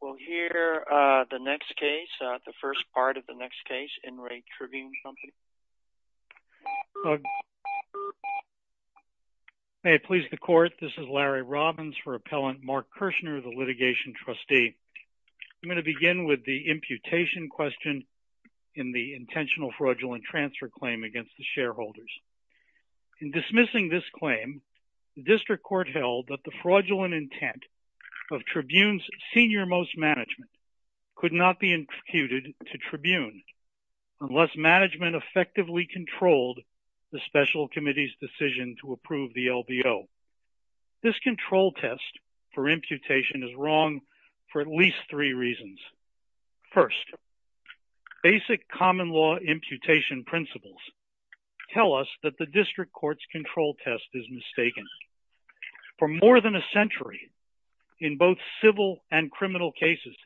We'll hear the next case, the first part of the next case. In re. Tribune Company Fraudulent Conveyance Litigation Litigation. May it please the Court, this is Larry Robbins for Appellant Mark Kirshner, the litigation trustee. I'm going to begin with the imputation question in the intentional fraudulent transfer claim against the shareholders. In dismissing this claim, the district court held that the fraudulent intent of Tribune's senior-most management could not be imputed to Tribune unless management effectively controlled the special committee's decision to approve the LBO. This control test for imputation is wrong for at least three reasons. First, basic common law imputation principles tell us that the district court's control test is mistaken. For more than a century, in both civil and criminal cases,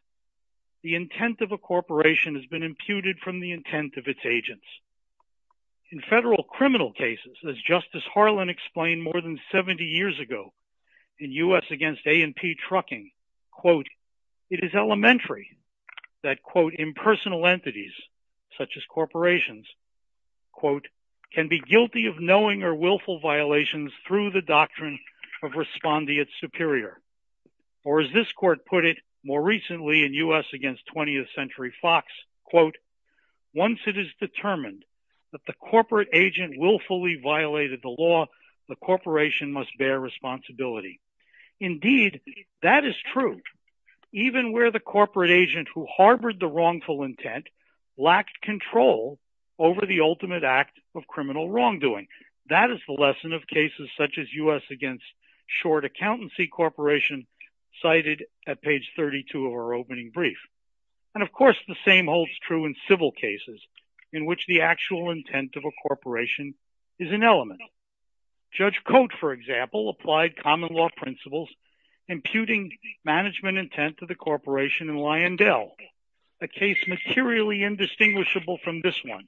the intent of a corporation has been imputed from the intent of its agents. In federal criminal cases, as Justice Harlan explained more than 70 years ago in U.S. against A&P Trucking, it is elementary that impersonal entities, such as corporations, can be guilty of knowing or willful violations through the doctrine of respondeat superior. Or as this court put it more recently in U.S. against 20th Century Fox, once it is determined that the corporate agent willfully violated the law, the corporation must bear responsibility. Indeed, that is true, even where the corporate agent who harbored the wrongful intent lacked control over the ultimate act of criminal wrongdoing. That is the lesson of cases such as U.S. against Short Accountancy Corporation cited at page 32 of our opening brief. And of course, the same holds true in civil cases in which the actual intent of a corporation is an element. Judge Coate, for example, applied common law principles imputing management intent to the corporation in Lyondell, a case materially indistinguishable from this one,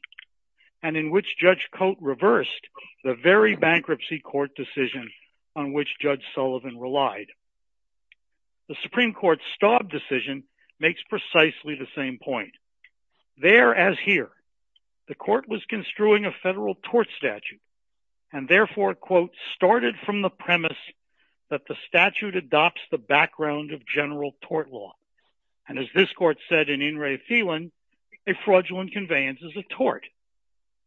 and in which Judge Coate reversed the very bankruptcy court decision on which Judge Sullivan relied. The Supreme Court's Staub decision makes precisely the same point. There, as here, the court was construing a federal tort statute and therefore, quote, started from the premise that the statute adopts the background of general tort law. And as this court said in In Re Felin, a fraudulent conveyance is a tort.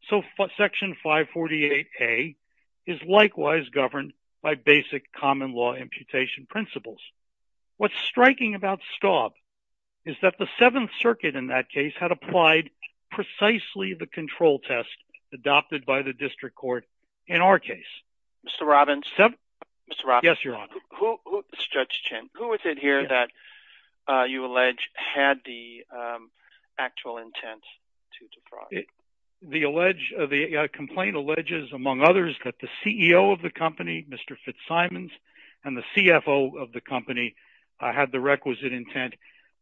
So Section 548A is likewise governed by basic common law imputation principles. What's striking about Staub is that the Seventh Circuit in that case had applied precisely the control test adopted by the district court in our case. Mr. Robbins. Mr. Robbins. Yes, Your Honor. Mr. Judge Chen, who is it here that you allege had the actual intent to defraud? The complaint alleges, among others, that the CEO of the company, Mr. Fitzsimons, and the CFO of the company had the requisite intent.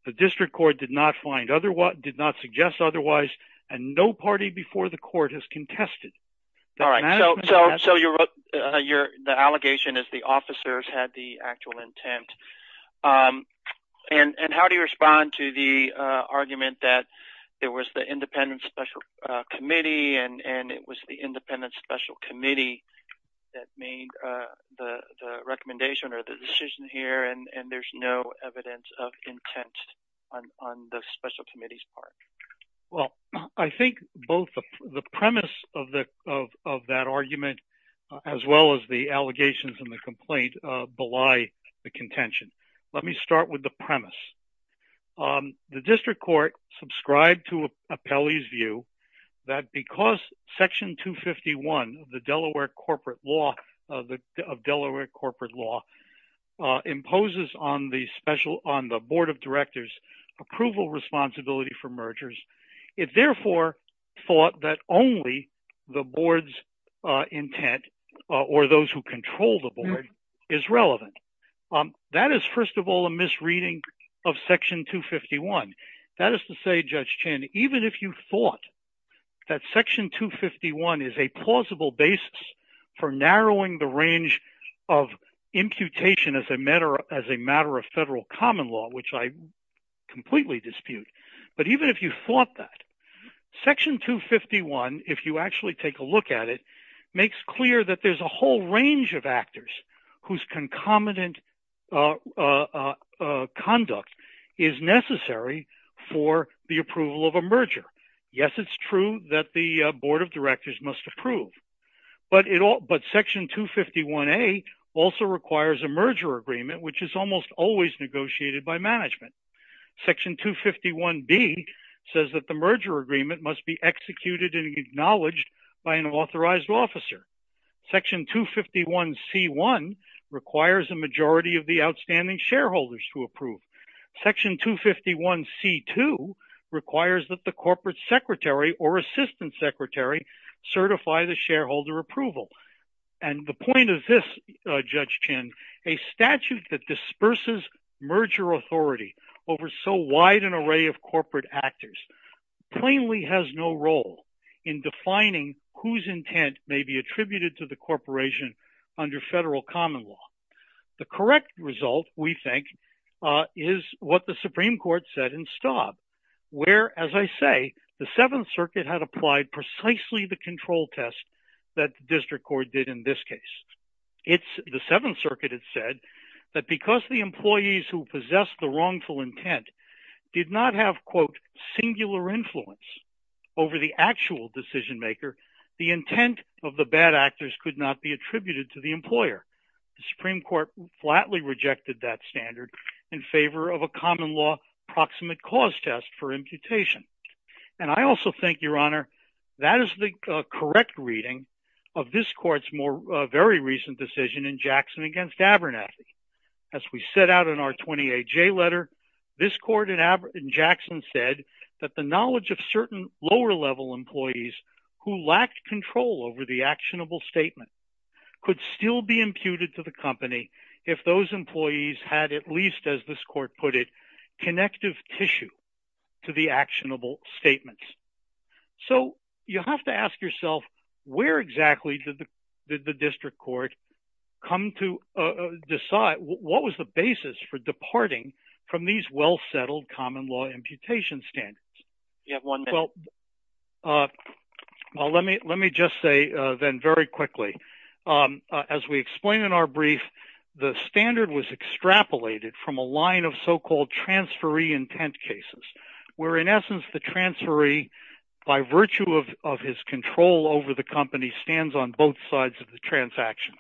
The district court did not find – did not suggest otherwise, and no party before the court has contested. All right. So the allegation is the officers had the actual intent. And how do you respond to the argument that there was the independent special committee, and it was the independent special committee that made the recommendation or the decision here, and there's no evidence of intent on the special committee's part? Well, I think both the premise of that argument as well as the allegations in the complaint belie the contention. Let me start with the premise. The district court subscribed to Apelli's view that because Section 251 of the Delaware corporate law – of Delaware corporate law – imposes on the special – on the board of directors approval responsibility for mergers, it therefore thought that only the board's intent or those who control the board is relevant. That is, first of all, a misreading of Section 251. That is to say, Judge Chan, even if you thought that Section 251 is a plausible basis for narrowing the range of imputation as a matter of federal common law, which I completely dispute, but even if you thought that, Section 251, if you actually take a look at it, makes clear that there's a whole range of actors whose concomitant conduct is necessary for the approval of a merger. Yes, it's true that the board of directors must approve, but Section 251A also requires a merger agreement, which is almost always negotiated by management. Section 251B says that the merger agreement must be executed and acknowledged by an authorized officer. Section 251C1 requires a majority of the outstanding shareholders to approve. Section 251C2 requires that the corporate secretary or assistant secretary certify the shareholder approval. And the point of this, Judge Chan, a statute that disperses merger authority over so wide an array of corporate actors, plainly has no role in defining whose intent may be attributed to the corporation under federal common law. The correct result, we think, is what the Supreme Court said in Staub, where, as I say, the Seventh Circuit had applied precisely the control test that the district court did in this case. The Seventh Circuit had said that because the employees who possess the wrongful intent did not have, quote, singular influence over the actual decision maker, the intent of the bad actors could not be attributed to the employer. The Supreme Court flatly rejected that standard in favor of a common law proximate cause test for imputation. And I also think, Your Honor, that is the correct reading of this court's more very recent decision in Jackson against Abernathy. As we set out in our 28J letter, this court in Jackson said that the knowledge of certain lower level employees who lacked control over the actionable statement could still be imputed to the company if those employees had at least, as this court put it, connective tissue to the actionable statements. So you have to ask yourself, where exactly did the district court come to decide? What was the basis for departing from these well-settled common law imputation standards? Well, let me just say then very quickly, as we explain in our brief, the standard was extrapolated from a line of so-called transferee intent cases, where in essence the transferee, by virtue of his control over the company, stands on both sides of the transaction.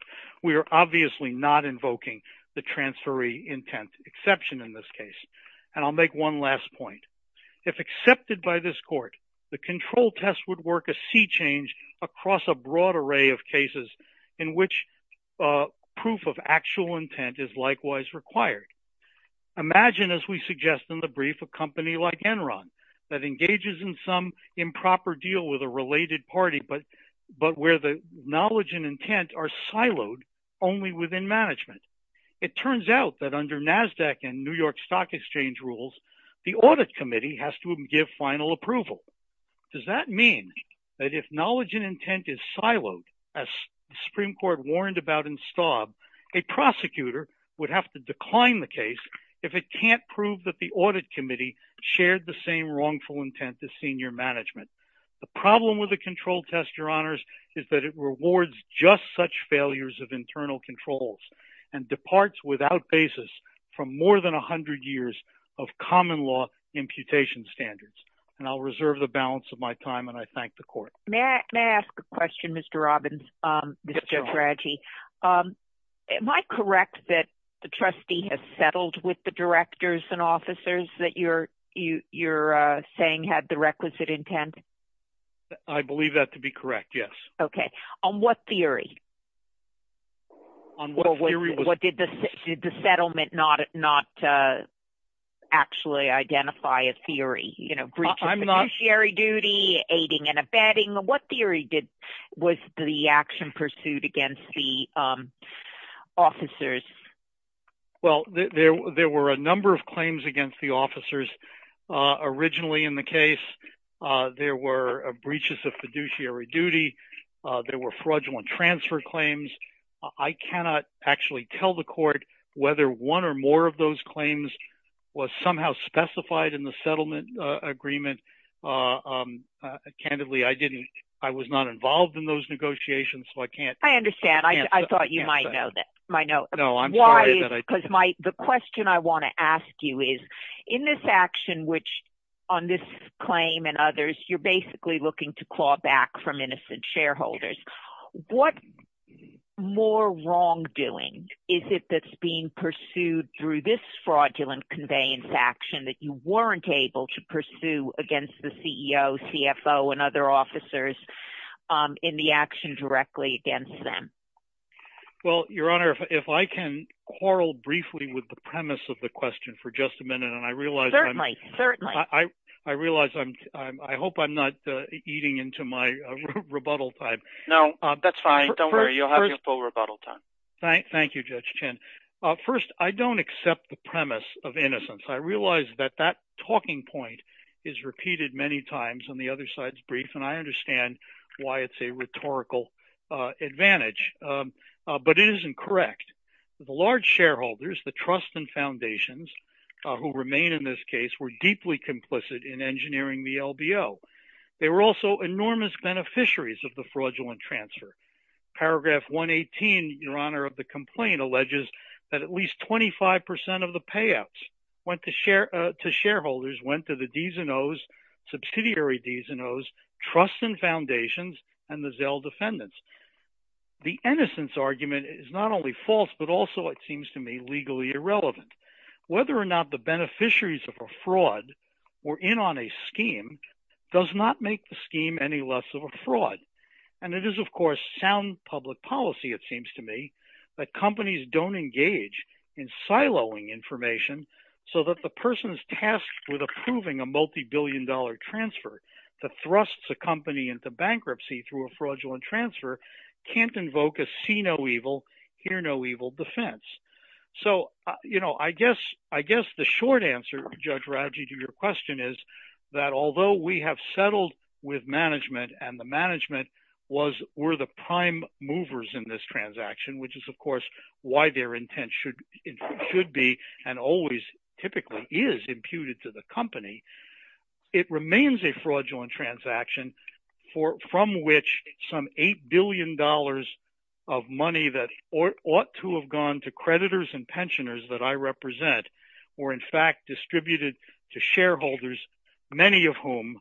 We are obviously not invoking the transferee intent exception in this case. And I'll make one last point. If accepted by this court, the control test would work a sea change across a broad array of cases in which proof of actual intent is likewise required. Imagine, as we suggest in the brief, a company like Enron that engages in some improper deal with a related party, but where the knowledge and intent are siloed only within management. It turns out that under NASDAQ and New York Stock Exchange rules, the audit committee has to give final approval. Does that mean that if knowledge and intent is siloed, as the Supreme Court warned about in Staub, a prosecutor would have to decline the case if it can't prove that the audit committee shared the same wrongful intent to senior management. The problem with the control test, Your Honors, is that it rewards just such failures of internal controls. And departs without basis from more than 100 years of common law imputation standards. And I'll reserve the balance of my time, and I thank the court. May I ask a question, Mr. Robbins? Yes, Your Honor. Mr. Jotaradji, am I correct that the trustee has settled with the directors and officers that you're saying had the requisite intent? I believe that to be correct, yes. Okay. On what theory? On what theory? Did the settlement not actually identify a theory, you know, breach of fiduciary duty, aiding and abetting? What theory was the action pursued against the officers? Well, there were a number of claims against the officers. Originally in the case, there were breaches of fiduciary duty. There were fraudulent transfer claims. I cannot actually tell the court whether one or more of those claims was somehow specified in the settlement agreement. Candidly, I didn't. I was not involved in those negotiations, so I can't. I understand. I thought you might know that. No, I'm sorry. The question I want to ask you is, in this action, which on this claim and others, you're basically looking to claw back from innocent shareholders. What more wrongdoing is it that's being pursued through this fraudulent conveyance action that you weren't able to pursue against the CEO, CFO, and other officers in the action directly against them? Well, Your Honor, if I can quarrel briefly with the premise of the question for just a minute. Certainly. I realize I hope I'm not eating into my rebuttal time. No, that's fine. Don't worry. You'll have your full rebuttal time. Thank you, Judge Chin. First, I don't accept the premise of innocence. I realize that that talking point is repeated many times on the other side's brief, and I understand why it's a rhetorical advantage. But it isn't correct. The large shareholders, the trusts and foundations who remain in this case, were deeply complicit in engineering the LBO. They were also enormous beneficiaries of the fraudulent transfer. Paragraph 118, Your Honor, of the complaint alleges that at least 25% of the payouts went to shareholders, went to the D's and O's, subsidiary D's and O's, trusts and foundations, and the Zelle defendants. The innocence argument is not only false, but also it seems to me legally irrelevant. Whether or not the beneficiaries of a fraud were in on a scheme does not make the scheme any less of a fraud. And it is, of course, sound public policy, it seems to me, that companies don't engage in siloing information so that the person is tasked with approving a multibillion dollar transfer that thrusts a company into bankruptcy through a fraudulent transfer can't invoke a see no evil, hear no evil defense. So I guess the short answer, Judge Radji, to your question is that although we have settled with management and the management were the prime movers in this transaction, which is, of course, why their intent should be and always typically is imputed to the company. It remains a fraudulent transaction from which some $8 billion of money that ought to have gone to creditors and pensioners that I represent were, in fact, distributed to shareholders, many of whom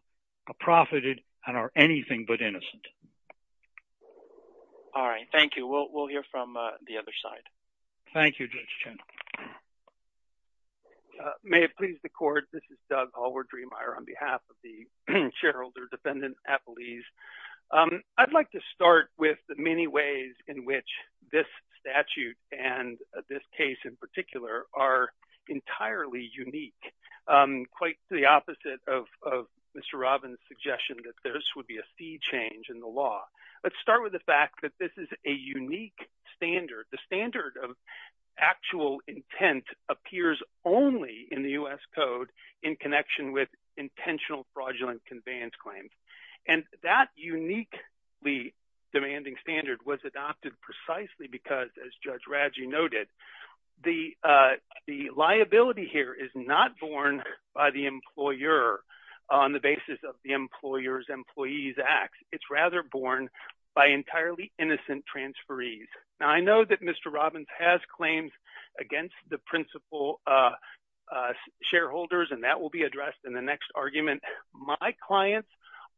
are profited and are anything but innocent. All right, thank you. We'll hear from the other side. Thank you, Judge Chen. May it please the court, this is Doug Hallward-Dremeier on behalf of the shareholder defendant at Belize. I'd like to start with the many ways in which this statute and this case in particular are entirely unique, quite the opposite of Mr. Robbins' suggestion that this would be a fee change in the law. Let's start with the fact that this is a unique standard. The standard of actual intent appears only in the U.S. Code in connection with intentional fraudulent conveyance claims. And that uniquely demanding standard was adopted precisely because, as Judge Radji noted, the liability here is not borne by the employer on the basis of the employer's employee's acts. It's rather borne by entirely innocent transferees. Now, I know that Mr. Robbins has claims against the principal shareholders, and that will be addressed in the next argument. My clients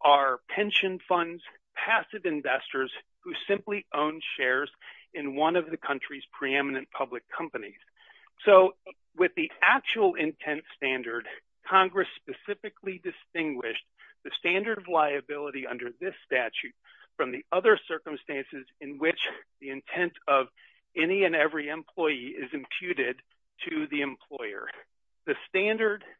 are pension funds, passive investors who simply own shares in one of the country's preeminent public companies. So, with the actual intent standard, Congress specifically distinguished the standard of liability under this statute from the other circumstances in which the intent of any and every employee is imputed to the employer. The standard –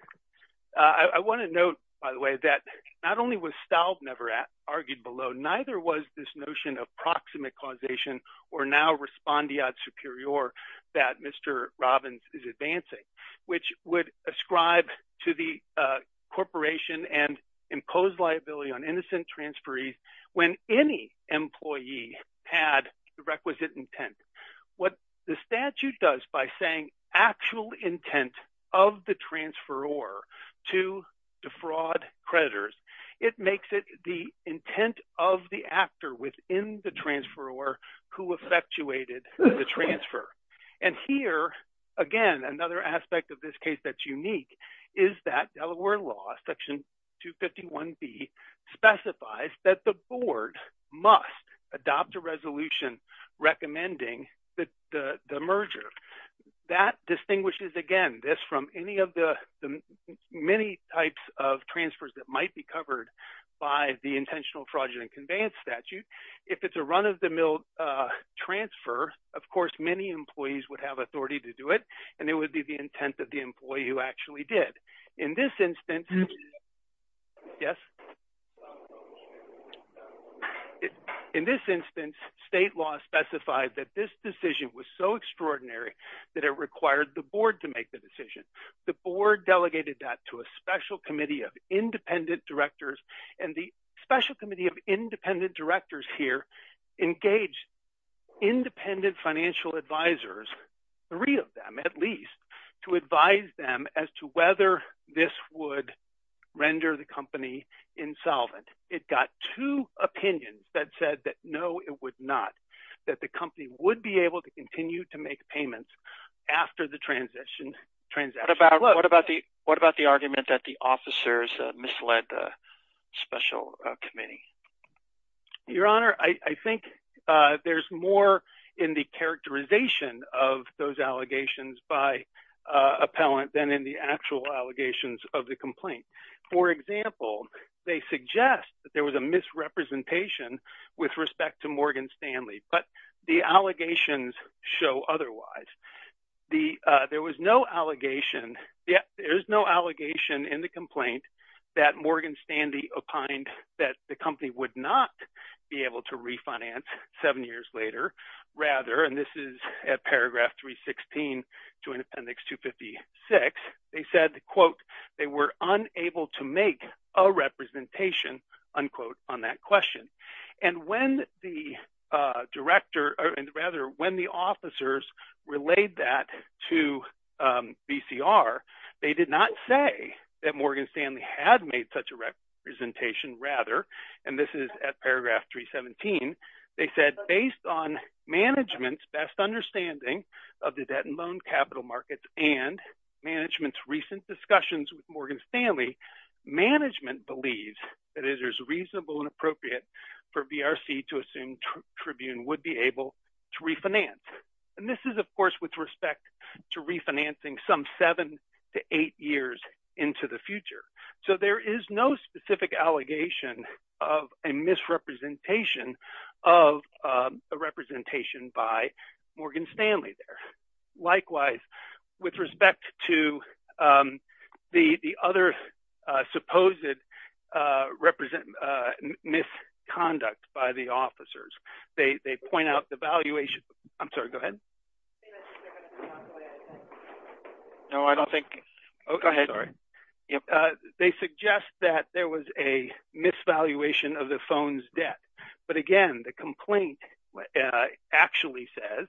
I want to note, by the way, that not only was Staub never argued below, neither was this notion of proximate causation or now respondeat superior that Mr. Robbins is advancing, which would ascribe to the corporation and impose liability on innocent transferees when any employee had the requisite intent. What the statute does by saying actual intent of the transferor to defraud creditors, it makes it the intent of the actor within the transferor who effectuated the transfer. And here, again, another aspect of this case that's unique is that Delaware law, section 251B, specifies that the board must adopt a resolution recommending the merger. That distinguishes, again, this from any of the many types of transfers that might be covered by the intentional fraudulent conveyance statute. If it's a run-of-the-mill transfer, of course, many employees would have authority to do it, and it would be the intent of the employee who actually did. In this instance, state law specified that this decision was so extraordinary that it required the board to make the decision. The board delegated that to a special committee of independent directors, and the special committee of independent directors here engaged independent financial advisors, three of them at least, to advise them as to whether this would render the company insolvent. It got two opinions that said that no, it would not, that the company would be able to continue to make payments after the transaction closed. What about the argument that the officers misled the special committee? Your Honor, I think there's more in the characterization of those allegations by appellant than in the actual allegations of the complaint. For example, they suggest that there was a misrepresentation with respect to Morgan Stanley, but the allegations show otherwise. There was no allegation, there is no allegation in the complaint that Morgan Stanley opined that the company would not be able to refinance seven years later. Rather, and this is at paragraph 316, Joint Appendix 256, they said, quote, they were unable to make a representation, unquote, on that question. And when the director, or rather, when the officers relayed that to BCR, they did not say that Morgan Stanley had made such a representation. Rather, and this is at paragraph 317, they said, based on management's best understanding of the debt and loan capital markets and management's recent discussions with Morgan Stanley, management believes that it is reasonable and appropriate for BRC to assume Tribune would be able to refinance. And this is, of course, with respect to refinancing some seven to eight years into the future. So there is no specific allegation of a misrepresentation of a representation by Morgan Stanley there. Likewise, with respect to the other supposed misconduct by the officers, they point out the valuation. I'm sorry, go ahead. No, I don't think. Go ahead. Sorry. They suggest that there was a misvaluation of the phone's debt. But again, the complaint actually says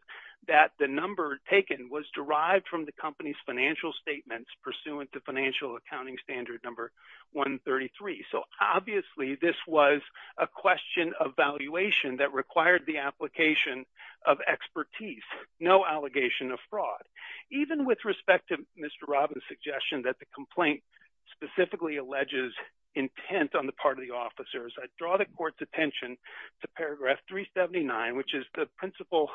that the number taken was derived from the company's financial statements pursuant to financial accounting standard number 133. So obviously, this was a question of valuation that required the application of expertise, no allegation of fraud. Even with respect to Mr. Robbins' suggestion that the complaint specifically alleges intent on the part of the officers, I draw the court's attention to paragraph 379, which is the principal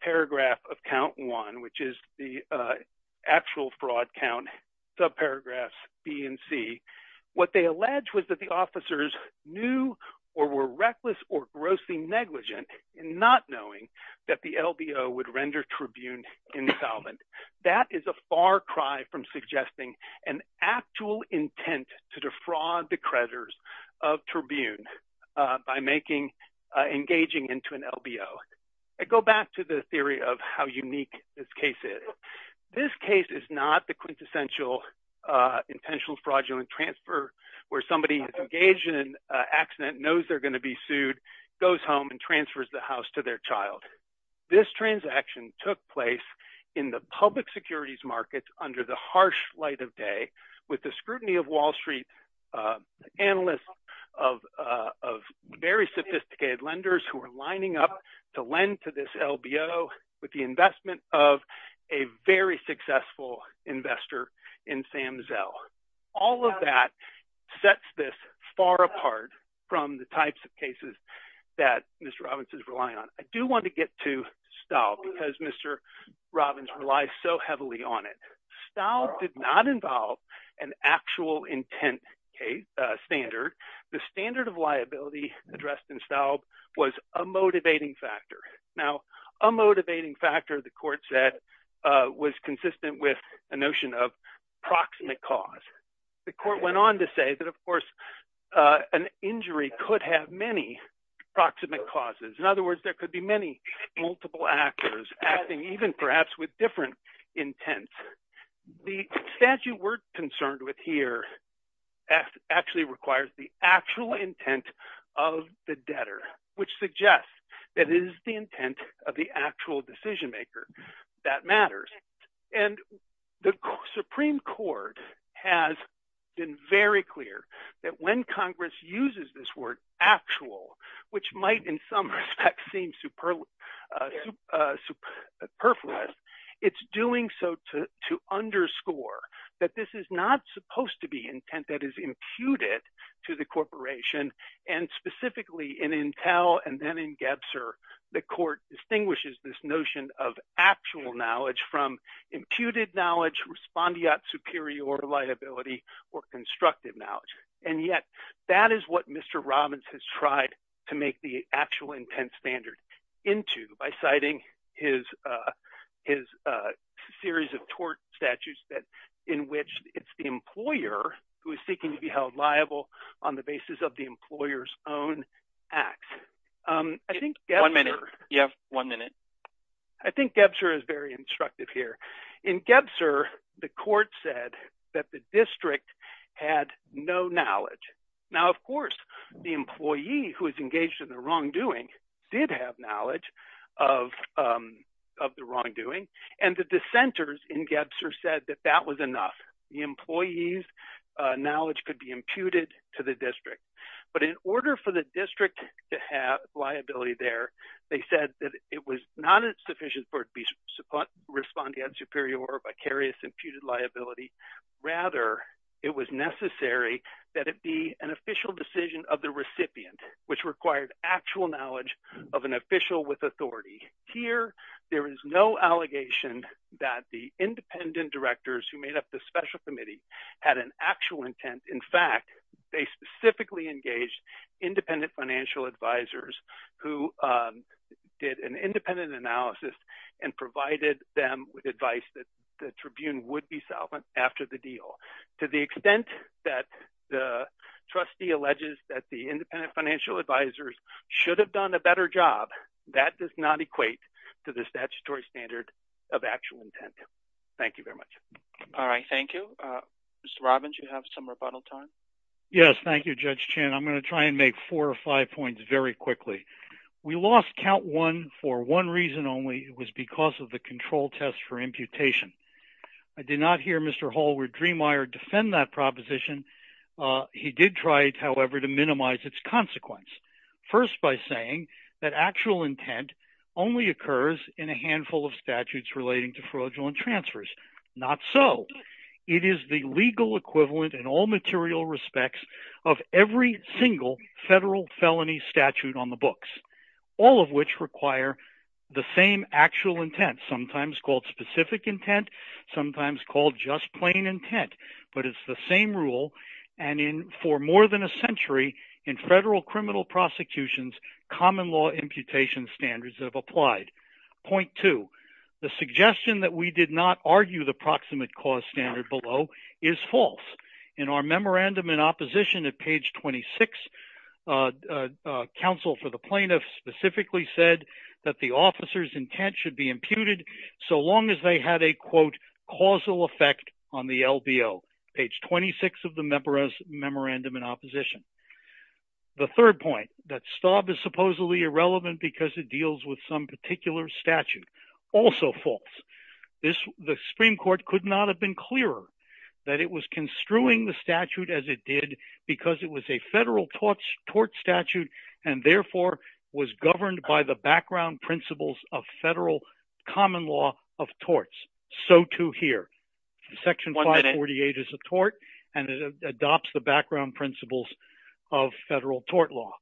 paragraph of count one, which is the actual fraud count, subparagraphs B and C. What they allege was that the officers knew or were reckless or grossly negligent in not knowing that the LBO would render Tribune insolvent. That is a far cry from suggesting an actual intent to defraud the creditors of Tribune by engaging into an LBO. I go back to the theory of how unique this case is. This case is not the quintessential intentional fraudulent transfer where somebody is engaged in an accident, knows they're going to be sued, goes home and transfers the house to their child. This transaction took place in the public securities markets under the harsh light of day with the scrutiny of Wall Street analysts of very sophisticated lenders who are lining up to lend to this LBO with the investment of a very successful investor in Sam Zell. All of that sets this far apart from the types of cases that Mr. Robbins is relying on. I do want to get to Staub because Mr. Robbins relies so heavily on it. Staub did not involve an actual intent standard. The standard of liability addressed in Staub was a motivating factor. Now, a motivating factor, the court said, was consistent with a notion of proximate cause. The court went on to say that, of course, an injury could have many proximate causes. In other words, there could be many multiple actors acting even perhaps with different intents. The statute we're concerned with here actually requires the actual intent of the debtor, which suggests that it is the intent of the actual decision maker that matters. And the Supreme Court has been very clear that when Congress uses this word actual, which might in some respects seem superfluous, it's doing so to underscore that this is not supposed to be intent that is imputed to the corporation. And specifically in Entel and then in Gebser, the court distinguishes this notion of actual knowledge from imputed knowledge, respondeat superior liability, or constructive knowledge. And yet that is what Mr. Robbins has tried to make the actual intent standard into by citing his series of tort statutes in which it's the employer who is seeking to be held liable on the basis of the employer's own acts. One minute. You have one minute. I think Gebser is very instructive here. In Gebser, the court said that the district had no knowledge. Now, of course, the employee who is engaged in the wrongdoing did have knowledge of the wrongdoing, and the dissenters in Gebser said that that was enough. The employees' knowledge could be imputed to the district. But in order for the district to have liability there, they said that it was not sufficient for it to be respondeat superior or vicarious imputed liability. Rather, it was necessary that it be an official decision of the recipient, which required actual knowledge of an official with authority. Here, there is no allegation that the independent directors who made up the special committee had an actual intent. In fact, they specifically engaged independent financial advisors who did an independent analysis and provided them with advice that the tribune would be solvent after the deal. To the extent that the trustee alleges that the independent financial advisors should have done a better job, that does not equate to the statutory standard of actual intent. Thank you very much. All right. Thank you. Mr. Robbins, you have some rebuttal time. Yes. Thank you, Judge Chin. I'm going to try and make four or five points very quickly. We lost count one for one reason only. It was because of the control test for imputation. I did not hear Mr. Hallward-Dremeier defend that proposition. He did try, however, to minimize its consequence. First, by saying that actual intent only occurs in a handful of statutes relating to fraudulent transfers. Not so. It is the legal equivalent in all material respects of every single federal felony statute on the books, all of which require the same actual intent, sometimes called specific intent, sometimes called just plain intent. But it's the same rule, and for more than a century, in federal criminal prosecutions, common law imputation standards have applied. Point two, the suggestion that we did not argue the proximate cause standard below is false. In our memorandum in opposition at page 26, counsel for the plaintiffs specifically said that the officer's intent should be imputed so long as they had a, quote, causal effect on the LBO. Page 26 of the memorandum in opposition. The third point, that Staub is supposedly irrelevant because it deals with some particular statute, also false. The Supreme Court could not have been clearer that it was construing the statute as it did because it was a federal tort statute and therefore was governed by the background principles of federal common law of torts. So too here. Section 548 is a tort, and it adopts the background principles of federal tort law.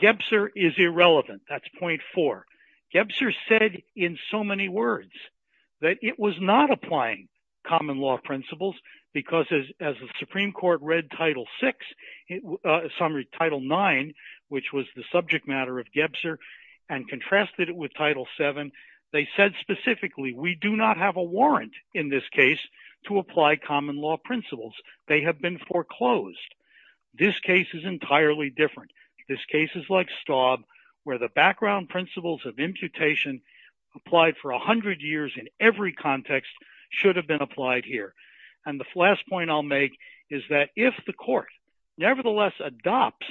Gebser is irrelevant. That's point four. Gebser said in so many words that it was not applying common law principles because, as the Supreme Court read title six, summary title nine, which was the subject matter of Gebser, and contrasted it with title seven, they said specifically, we do not have a warrant in this case to apply common law principles. They have been foreclosed. This case is entirely different. This case is like Staub, where the background principles of imputation applied for 100 years in every context should have been applied here. And the last point I'll make is that if the court nevertheless adopts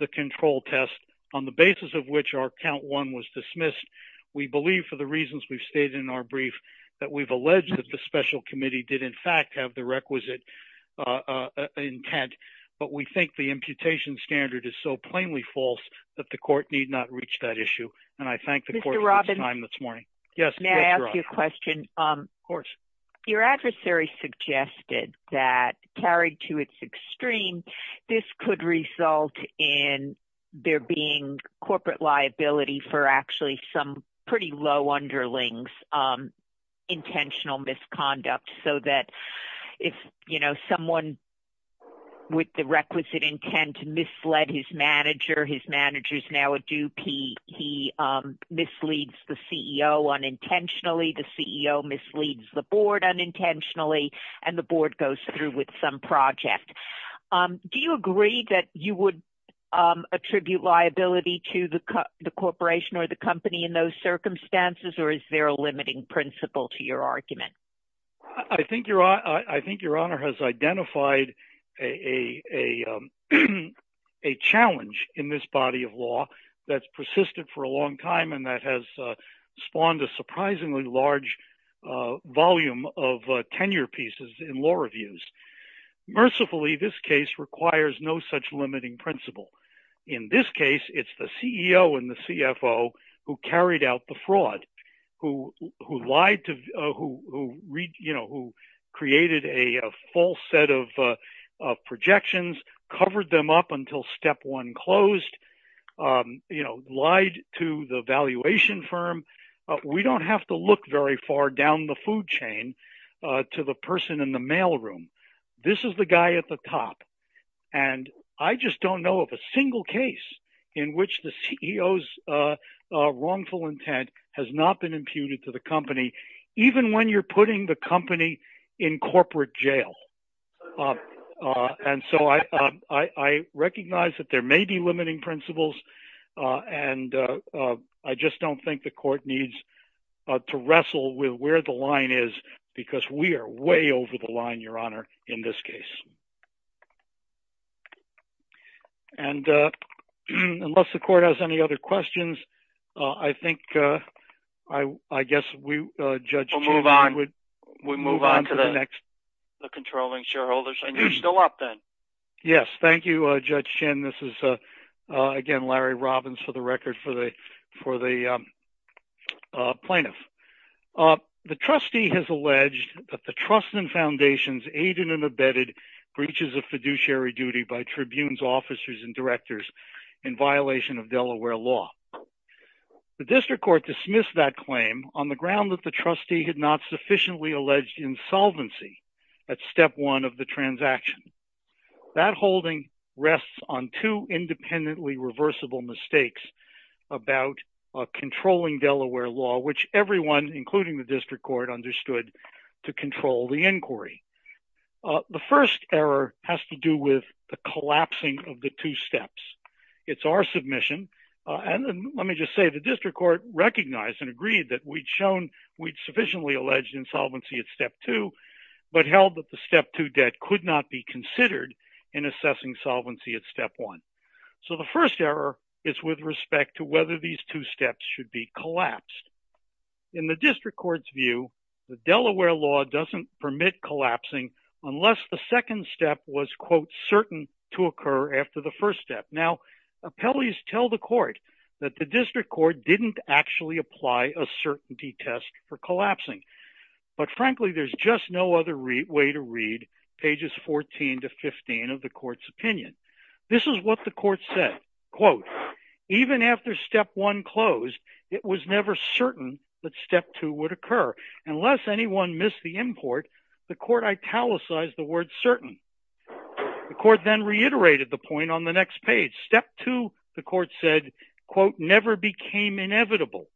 the control test on the basis of which our count one was dismissed, we believe for the reasons we've stated in our brief that we've alleged that the special committee did in fact have the requisite intent, but we think the imputation standard is so plainly false that the court need not reach that issue. And I thank the court for its time this morning. Do you agree that you would attribute liability to the corporation or the company in those circumstances, or is there a limiting principle to your argument? I think Your Honor has identified a challenge in this body of law that's persisted for a long time and that has spawned a surprisingly large volume of tenure pieces in law reviews. Mercifully, this case requires no such limiting principle. In this case, it's the CEO and the CFO who carried out the fraud, who lied, who created a false set of projections, covered them up until step one closed, lied to the valuation firm. We don't have to look very far down the food chain to the person in the mailroom. This is the guy at the top. And I just don't know of a single case in which the CEO's wrongful intent has not been imputed to the company, even when you're putting the company in corporate jail. And so I recognize that there may be limiting principles, and I just don't think the court needs to wrestle with where the line is, because we are way over the line, Your Honor, in this case. And unless the court has any other questions, I think I guess we, Judge Chin, would move on to the next. We'll move on to the controlling shareholders. And you're still up, then. Yes, thank you, Judge Chin. This is, again, Larry Robbins, for the record, for the plaintiff. The trustee has alleged that the trust and foundations aided and abetted breaches of fiduciary duty by tribunes, officers, and directors in violation of Delaware law. The district court dismissed that claim on the ground that the trustee had not sufficiently alleged insolvency at step one of the transaction. That holding rests on two independently reversible mistakes about controlling Delaware law, which everyone, including the district court, understood to control the inquiry. The first error has to do with the collapsing of the two steps. It's our submission. And let me just say the district court recognized and agreed that we'd shown we'd sufficiently alleged insolvency at step two, but held that the step two debt could not be considered in assessing solvency at step one. So the first error is with respect to whether these two steps should be collapsed. In the district court's view, the Delaware law doesn't permit collapsing unless the second step was, quote, certain to occur after the first step. Now, appellees tell the court that the district court didn't actually apply a certainty test for collapsing. But frankly, there's just no other way to read pages 14 to 15 of the court's opinion. This is what the court said, quote, even after step one closed, it was never certain that step two would occur. Unless anyone missed the import, the court italicized the word certain. The court then reiterated the point on the next page. Step two, the court said, quote, never became inevitable.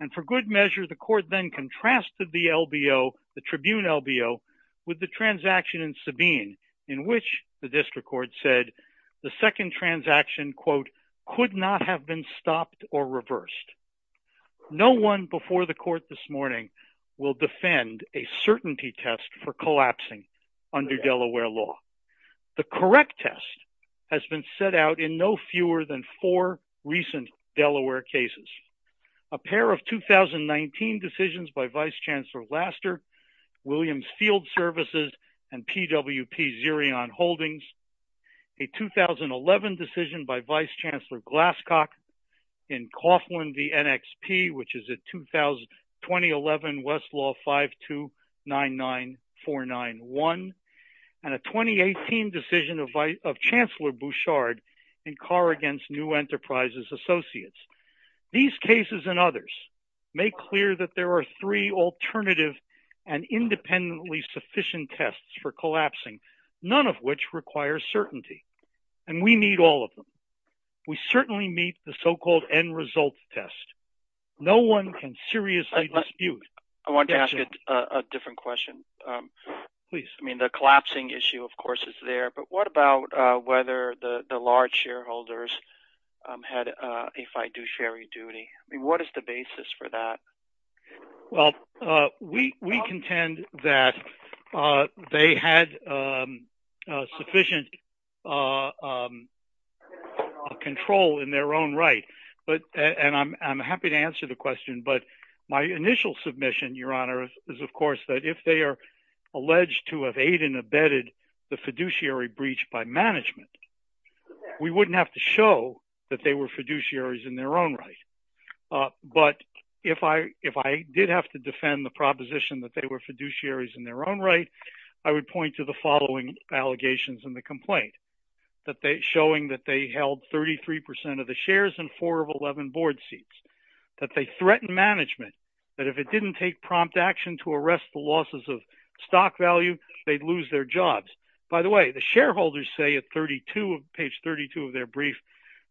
And for good measure, the court then contrasted the LBO, the Tribune LBO, with the transaction in Sabine, in which the district court said the second transaction, quote, could not have been stopped or reversed. No one before the court this morning will defend a certainty test for collapsing under Delaware law. The correct test has been set out in no fewer than four recent Delaware cases. A pair of 2019 decisions by Vice Chancellor Laster, Williams Field Services, and PWP Zerion Holdings. A 2011 decision by Vice Chancellor Glasscock in Coughlin v. NXP, which is a 2011 Westlaw 5299491. And a 2018 decision of Chancellor Bouchard in Carr against New Enterprises Associates. These cases and others make clear that there are three alternative and independently sufficient tests for collapsing, none of which require certainty. And we need all of them. We certainly meet the so-called end result test. No one can seriously dispute. I wanted to ask a different question. I mean, the collapsing issue, of course, is there, but what about whether the large shareholders had a fiduciary duty? I mean, what is the basis for that? Well, we contend that they had sufficient control in their own right. And I'm happy to answer the question, but my initial submission, Your Honor, is, of course, that if they are alleged to have aided and abetted the fiduciary breach by management, we wouldn't have to show that they were fiduciaries in their own right. But if I if I did have to defend the proposition that they were fiduciaries in their own right, I would point to the following allegations in the complaint, that they're showing that they held 33 percent of the shares and four of 11 board seats, that they threatened management, that if it didn't take prompt action to arrest the losses of stock value, they'd lose their jobs. By the way, the shareholders say at 32 of page 32 of their brief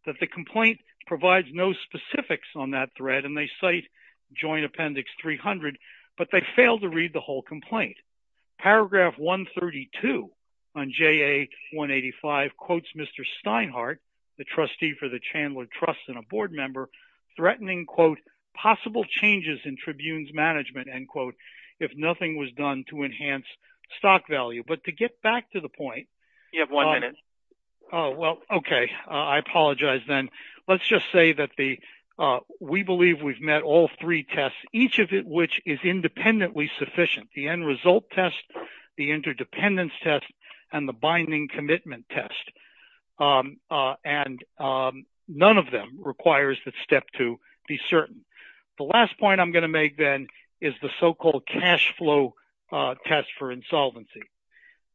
that the complaint provides no specifics on that thread and they cite Joint Appendix 300. But they fail to read the whole complaint. Paragraph 132 on J.A. 185 quotes Mr. Steinhardt, the trustee for the Chandler Trust and a board member, threatening, quote, possible changes in tribunes management and quote, if nothing was done to enhance stock value. But to get back to the point, you have one minute. Oh, well, OK. I apologize then. Let's just say that the we believe we've met all three tests, each of which is independently sufficient. The end result test, the interdependence test and the binding commitment test. And none of them requires that step to be certain. The last point I'm going to make then is the so-called cash flow test for insolvency.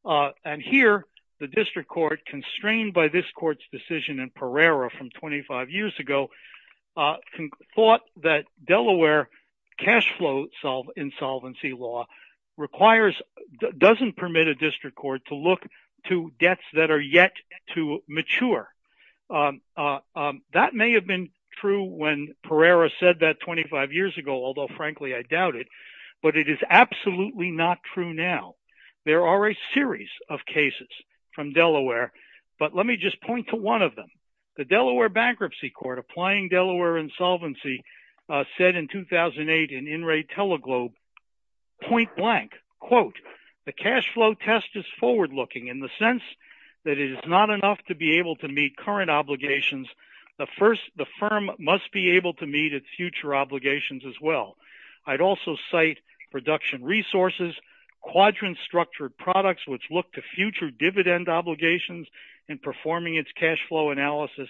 And here the district court, constrained by this court's decision in Pereira from 25 years ago, thought that Delaware cash flow insolvency law requires doesn't permit a district court to look to debts that are yet to mature. That may have been true when Pereira said that 25 years ago, although frankly, I doubt it. But it is absolutely not true now. There are a series of cases from Delaware. But let me just point to one of them. The Delaware Bankruptcy Court applying Delaware insolvency said in 2008 in In Re Teleglobe point blank, quote, the cash flow test is forward looking in the sense that it is not enough to be able to meet current obligations. The first the firm must be able to meet its future obligations as well. I'd also cite production resources, quadrant structured products, which look to future dividend obligations in performing its cash flow analysis.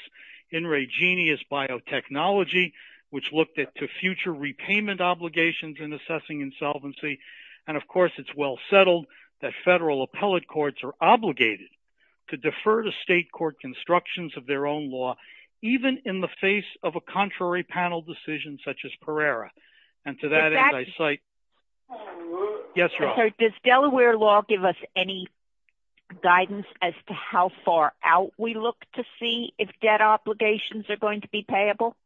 In ReGenius biotechnology, which looked at the future repayment obligations in assessing insolvency. And of course, it's well settled that federal appellate courts are obligated to defer to state court constructions of their own law, even in the face of a contrary panel decision such as Pereira. And to that, I cite. Yes, sir. Does Delaware law give us any guidance as to how far out we look to see if debt obligations are going to be payable?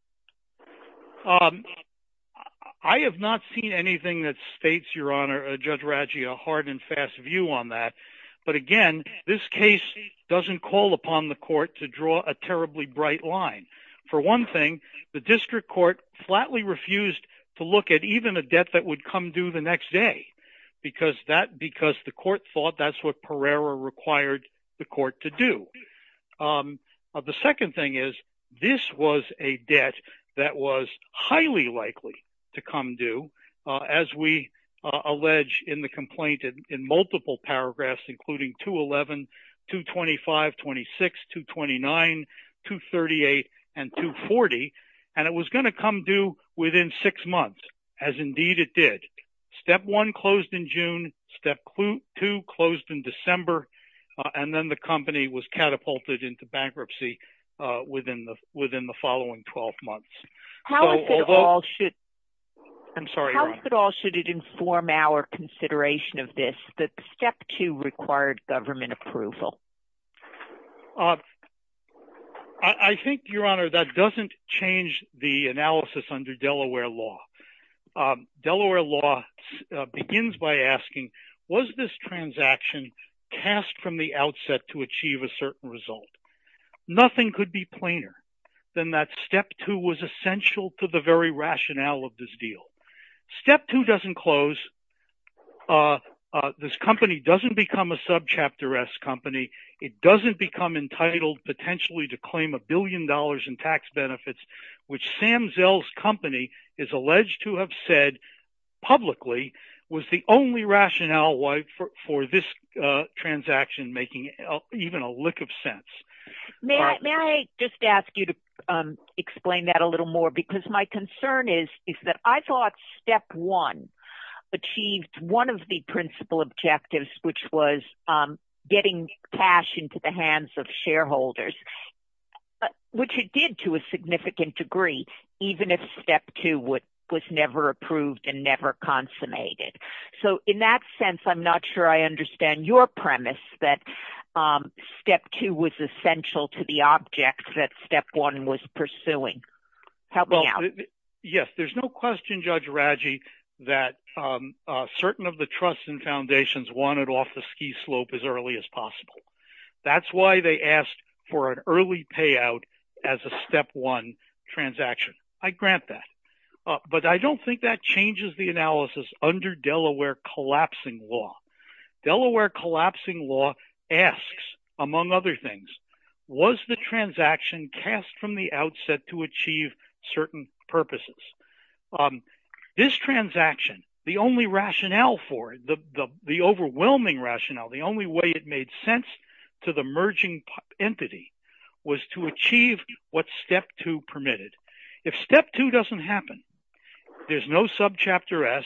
I have not seen anything that states, Your Honor, Judge Raggi, a hard and fast view on that. But again, this case doesn't call upon the court to draw a terribly bright line. For one thing, the district court flatly refused to look at even a debt that would come due the next day because that because the court thought that's what Pereira required the court to do. The second thing is this was a debt that was highly likely to come due, as we allege in the complaint in multiple paragraphs, including 211, 225, 26, 229, 238 and 240. And it was going to come due within six months, as indeed it did. Step one closed in June. Step two closed in December. And then the company was catapulted into bankruptcy within the within the following 12 months. How is it all should I'm sorry. How is it all? Should it inform our consideration of this? Step two required government approval. I think, Your Honor, that doesn't change the analysis under Delaware law. Delaware law begins by asking, was this transaction cast from the outset to achieve a certain result? Nothing could be plainer than that. Step two was essential to the very rationale of this deal. Step two doesn't close. This company doesn't become a subchapter S company. It doesn't become entitled potentially to claim a billion dollars in tax benefits, which Sam Zell's company is alleged to have said publicly was the only rationale for this transaction, making even a lick of sense. May I just ask you to explain that a little more? Because my concern is, is that I thought step one achieved one of the principal objectives, which was getting cash into the hands of shareholders. But what you did to a significant degree, even if step two would was never approved and never consummated. So in that sense, I'm not sure I understand your premise that step two was essential to the object that step one was pursuing. Help me out. Yes, there's no question, Judge Raji, that certain of the trusts and foundations wanted off the ski slope as early as possible. That's why they asked for an early payout as a step one transaction. I grant that, but I don't think that changes the analysis under Delaware collapsing law. Delaware collapsing law asks, among other things, was the transaction cast from the outset to achieve certain purposes? This transaction, the only rationale for the overwhelming rationale, the only way it made sense to the merging entity was to achieve what step two permitted. If step two doesn't happen, there's no subchapter S.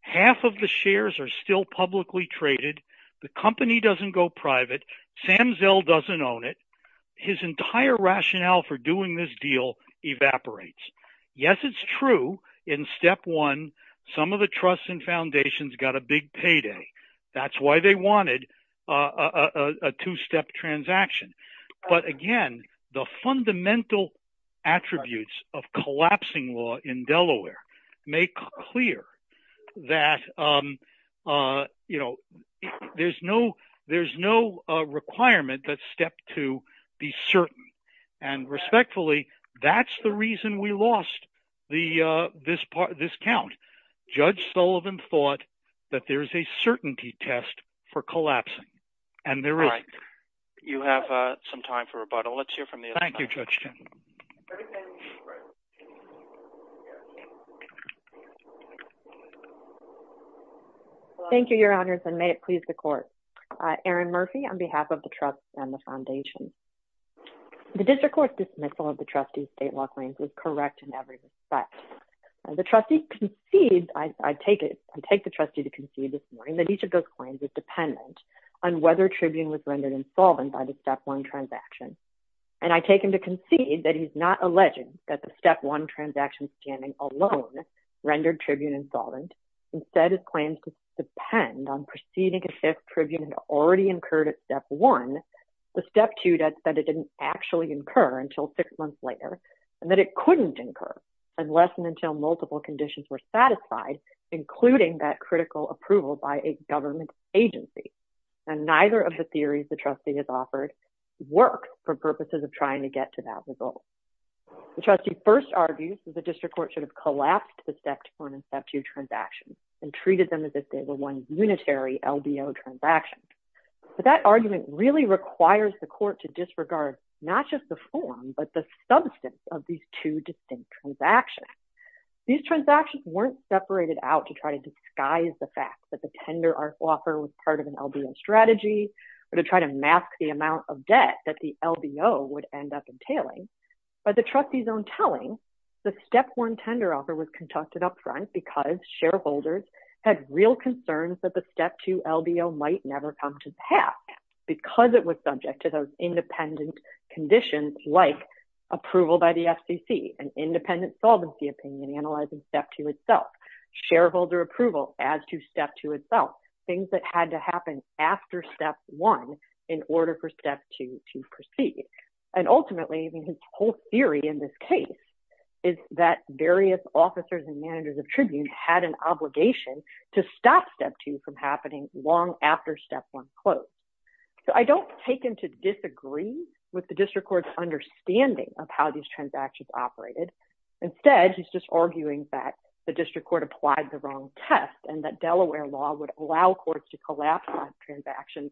Half of the shares are still publicly traded. The company doesn't go private. Sam Zell doesn't own it. His entire rationale for doing this deal evaporates. Yes, it's true. In step one, some of the trusts and foundations got a big payday. That's why they wanted a two step transaction. But again, the fundamental attributes of collapsing law in Delaware make clear that, you know, there's no there's no requirement that step to be certain. And respectfully, that's the reason we lost this part of this count. Judge Sullivan thought that there is a certainty test for collapsing. And there is. You have some time for rebuttal. Let's hear from you. Thank you, Judge. Thank you, Your Honors, and may it please the court. Aaron Murphy, on behalf of the trust and the foundation. The district court dismissal of the trustee state law claims was correct in every respect. The trustee concedes, I take it, I take the trustee to concede this morning that each of those claims is dependent on whether Tribune was rendered insolvent by the step one transaction. And I take him to concede that he's not alleging that the step one transaction scanning alone rendered Tribune insolvent. Instead, it claims to depend on proceeding if Tribune had already incurred at step one. The step two that said it didn't actually incur until six months later and that it couldn't incur unless and until multiple conditions were satisfied, including that critical approval by a government agency. And neither of the theories the trustee has offered work for purposes of trying to get to that result. The trustee first argues that the district court should have collapsed the step one and step two transactions and treated them as if they were one unitary LDO transaction. But that argument really requires the court to disregard not just the form, but the substance of these two distinct transactions. These transactions weren't separated out to try to disguise the fact that the tender offer was part of an LDO strategy or to try to mask the amount of debt that the LDO would end up entailing. By the trustee's own telling, the step one tender offer was conducted up front because shareholders had real concerns that the step two LDO might never come to pass because it was subject to those independent conditions like approval by the FCC, an independent solvency opinion analyzing step two itself, shareholder approval as to step two itself, things that had to happen after step one in order for step two to proceed. And ultimately, his whole theory in this case is that various officers and managers of tribune had an obligation to stop step two from happening long after step one closed. So I don't take him to disagree with the district court's understanding of how these transactions operated. Instead, he's just arguing that the district court applied the wrong test and that Delaware law would allow courts to collapse transactions,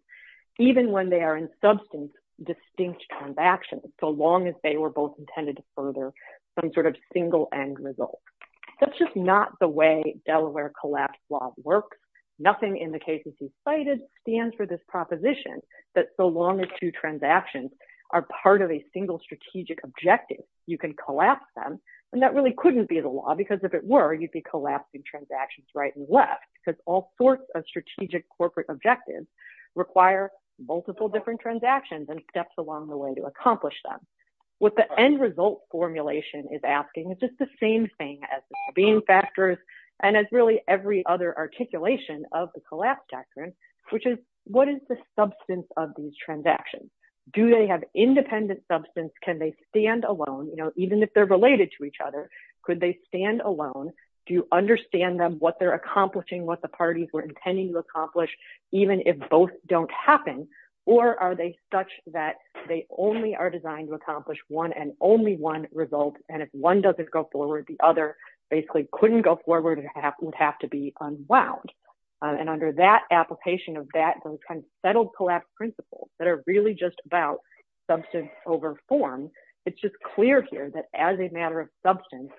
even when they are in substance distinct transactions, so long as they were both intended to further some sort of single end result. That's just not the way Delaware collapse law works. Nothing in the cases he cited stands for this proposition that so long as two transactions are part of a single strategic objective, you can collapse them. And that really couldn't be the law because if it were, you'd be collapsing transactions right and left because all sorts of strategic corporate objectives require multiple different transactions and steps along the way to accomplish them. What the end result formulation is asking is just the same thing as being factors and as really every other articulation of the collapse doctrine, which is what is the substance of these transactions? Do they have independent substance? Can they stand alone? You know, even if they're related to each other, could they stand alone? Do you understand them, what they're accomplishing, what the parties were intending to accomplish, even if both don't happen? Or are they such that they only are designed to accomplish one and only one result? And if one doesn't go forward, the other basically couldn't go forward and would have to be unwound. And under that application of that kind of settled collapse principles that are really just about substance over form, it's just clear here that as a matter of substance,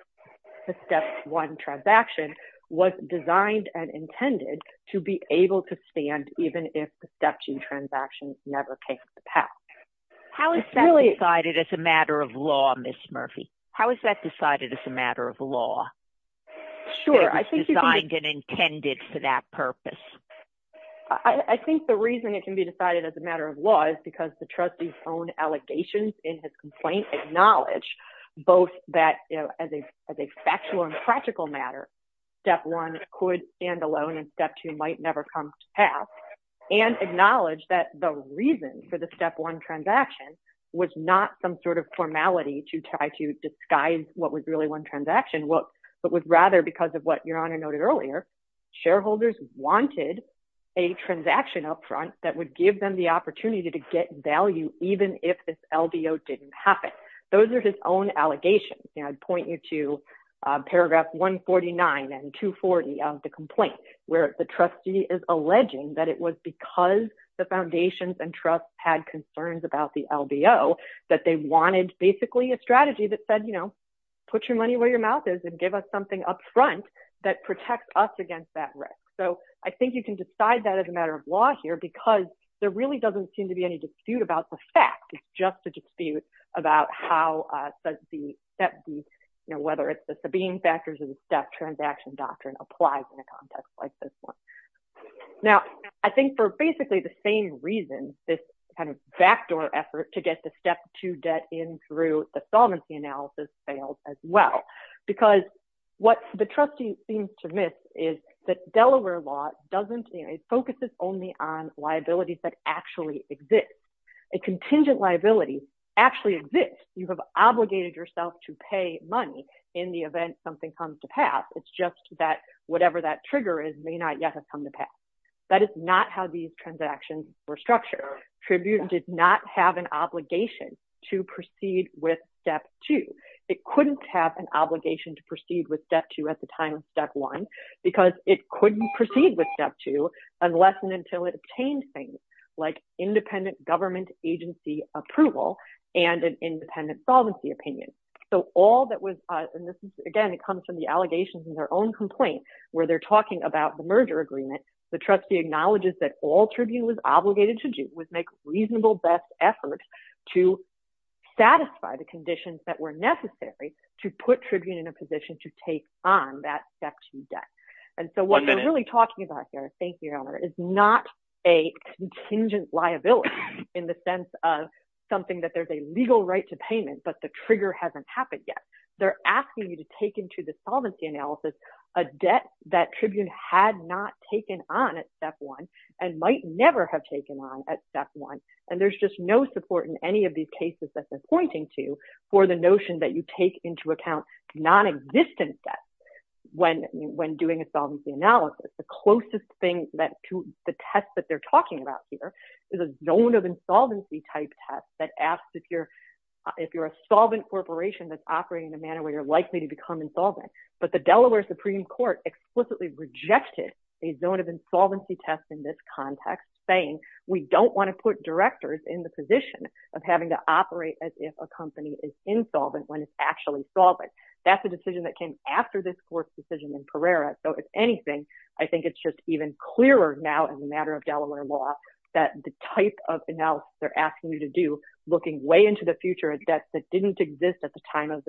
the step one transaction was designed and intended to be able to stand even if the step two transactions never came to pass. How is that decided as a matter of law, Ms. Murphy? How is that decided as a matter of law? Sure, I think it's designed and intended for that purpose. I think the reason it can be decided as a matter of law is because the trustee's own allegations in his complaint acknowledge both that as a factual and practical matter, step one could stand alone and step two might never come to pass, and acknowledge that the reason for the step one transaction was not some sort of formality to try to disguise what was really one transaction, but was rather because of what Your Honor noted earlier, shareholders wanted a transaction up front that would give them the opportunity to get value, even if this LDO didn't happen. Those are his own allegations, and I'd point you to paragraph 149 and 240 of the complaint, where the trustee is alleging that it was because the foundations and trust had concerns about the LDO that they wanted basically a strategy that said, you know, put your money where your mouth is and give us something up front that protects us against that risk. So I think you can decide that as a matter of law here, because there really doesn't seem to be any dispute about the fact. It's just a dispute about whether it's the subpoena factors of the step transaction doctrine applies in a context like this one. Now, I think for basically the same reason, this kind of backdoor effort to get the step two debt in through the solvency analysis failed as well, because what the trustee seems to miss is that Delaware law doesn't, it focuses only on liabilities that actually exist. A contingent liability actually exists. You have obligated yourself to pay money in the event something comes to pass. It's just that whatever that trigger is may not yet have come to pass. That is not how these transactions were structured. Tribune did not have an obligation to proceed with step two. It couldn't have an obligation to proceed with step two at the time of step one, because it couldn't proceed with step two unless and until it obtained things like independent government agency approval and an independent solvency opinion. So all that was, and this is, again, it comes from the allegations in their own complaint where they're talking about the merger agreement. The trustee acknowledges that all Tribune was obligated to do was make reasonable best efforts to satisfy the conditions that were necessary to put Tribune in a position to take on that step two debt. And so what they're really talking about here, thank you, Your Honor, is not a contingent liability in the sense of something that there's a legal right to payment, but the trigger hasn't happened yet. They're asking you to take into the solvency analysis a debt that Tribune had not taken on at step one and might never have taken on at step one. And there's just no support in any of these cases that they're pointing to for the notion that you take into account non-existent debts when doing a solvency analysis. The closest thing to the test that they're talking about here is a zone of insolvency type test that asks if you're a solvent corporation that's operating in a manner where you're likely to become insolvent. But the Delaware Supreme Court explicitly rejected a zone of insolvency test in this context, saying we don't want to put directors in the position of having to operate as if a company is insolvent when it's actually solvent. That's a decision that came after this court's decision in Pereira. So, if anything, I think it's just even clearer now as a matter of Delaware law that the type of analysis they're asking you to do, looking way into the future, a debt that didn't exist at the time that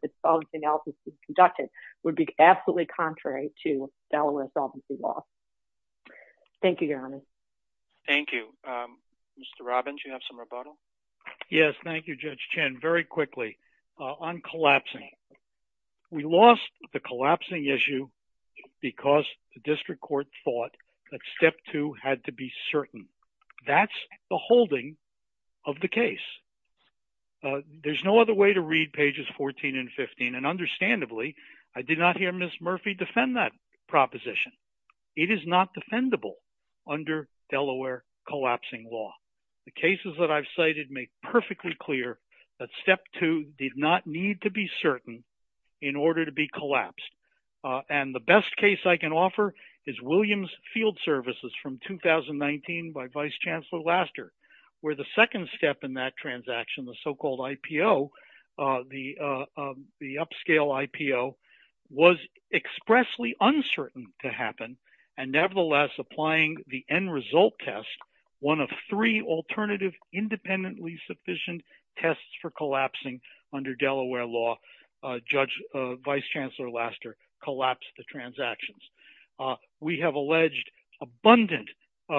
the solvency analysis was conducted would be absolutely contrary to Delaware solvency law. Thank you, Your Honor. Thank you. Mr. Robbins, you have some rebuttal? Yes, thank you, Judge Chin. Very quickly, on collapsing. We lost the collapsing issue because the district court thought that step two had to be certain. That's the holding of the case. There's no other way to read pages 14 and 15, and understandably, I did not hear Ms. Murphy defend that proposition. It is not defendable under Delaware collapsing law. The cases that I've cited make perfectly clear that step two did not need to be certain in order to be collapsed. And the best case I can offer is Williams Field Services from 2019 by Vice Chancellor Laster, where the second step in that transaction, the so-called IPO, the upscale IPO, was expressly uncertain to happen, and nevertheless applying the end result test, one of three alternative independently sufficient tests for collapsing under Delaware law. Judge Vice Chancellor Laster collapsed the transactions. We have alleged abundant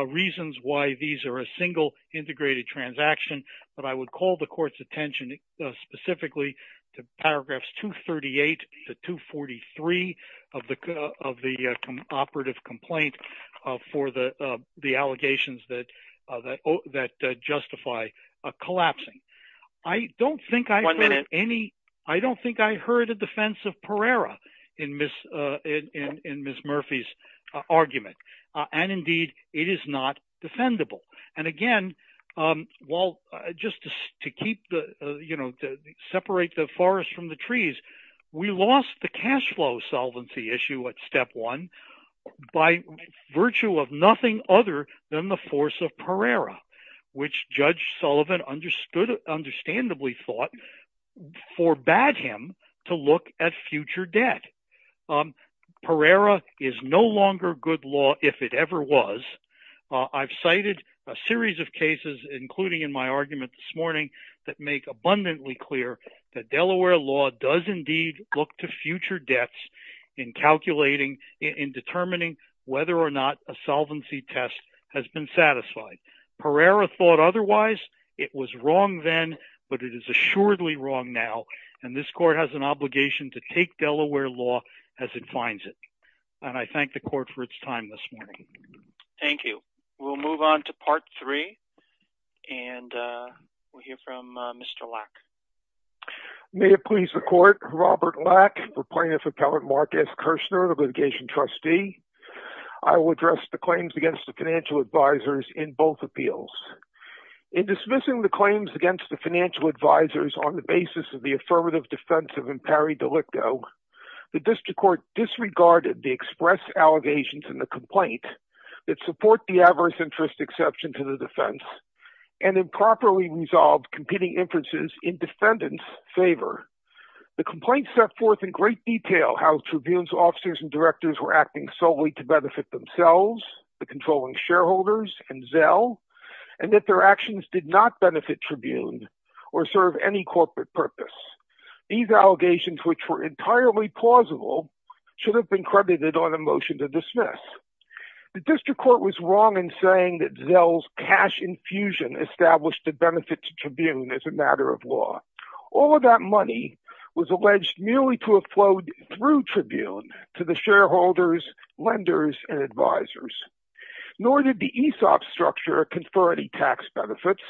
reasons why these are a single integrated transaction, but I would call the court's attention specifically to paragraphs 238 to 243 of the operative complaint for the allegations that justify collapsing. I don't think I heard any – I don't think I heard a defense of Pereira in Ms. Murphy's argument, and indeed, it is not defendable. And again, just to separate the forest from the trees, we lost the cash flow solvency issue at step one by virtue of nothing other than the force of Pereira, which Judge Sullivan understandably thought forbade him to look at future debt. Pereira is no longer good law, if it ever was. I've cited a series of cases, including in my argument this morning, that make abundantly clear that Delaware law does indeed look to future debts in calculating, in determining whether or not a solvency test has been satisfied. Pereira thought otherwise. It was wrong then, but it is assuredly wrong now, and this court has an obligation to take Delaware law as it finds it. And I thank the court for its time this morning. Thank you. We'll move on to part three, and we'll hear from Mr. Lack. May it please the court, Robert Lack, Plaintiff Appellant Marcus Kirshner, the litigation trustee. I will address the claims against the financial advisors in both appeals. In dismissing the claims against the financial advisors on the basis of the affirmative defense of Impari delicto, the district court disregarded the express allegations in the complaint that support the adverse interest exception to the defense, and improperly resolved competing inferences in defendants' favor. The complaint set forth in great detail how tribunes' officers and directors were acting solely to benefit themselves, the controlling shareholders, and Zell, and that their actions did not benefit tribunes or serve any corporate purpose. These allegations, which were entirely plausible, should have been credited on a motion to dismiss. The district court was wrong in saying that Zell's cash infusion established a benefit to tribune as a matter of law. All of that money was alleged merely to have flowed through tribune to the shareholders, lenders, and advisors. Nor did the ESOP structure confer any tax benefits.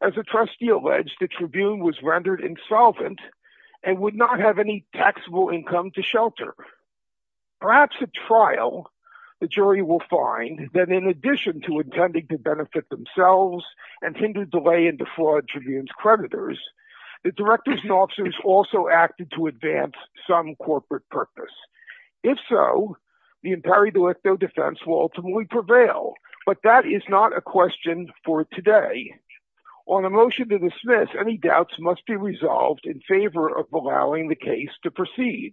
As the trustee alleged, the tribune was rendered insolvent and would not have any taxable income to shelter. Perhaps at trial, the jury will find that in addition to intending to benefit themselves and hinder delay in defraud tribunes' creditors, the directors and officers also acted to advance some corporate purpose. If so, the Impari delicto defense will ultimately prevail, but that is not a question for today. On a motion to dismiss, any doubts must be resolved in favor of allowing the case to proceed.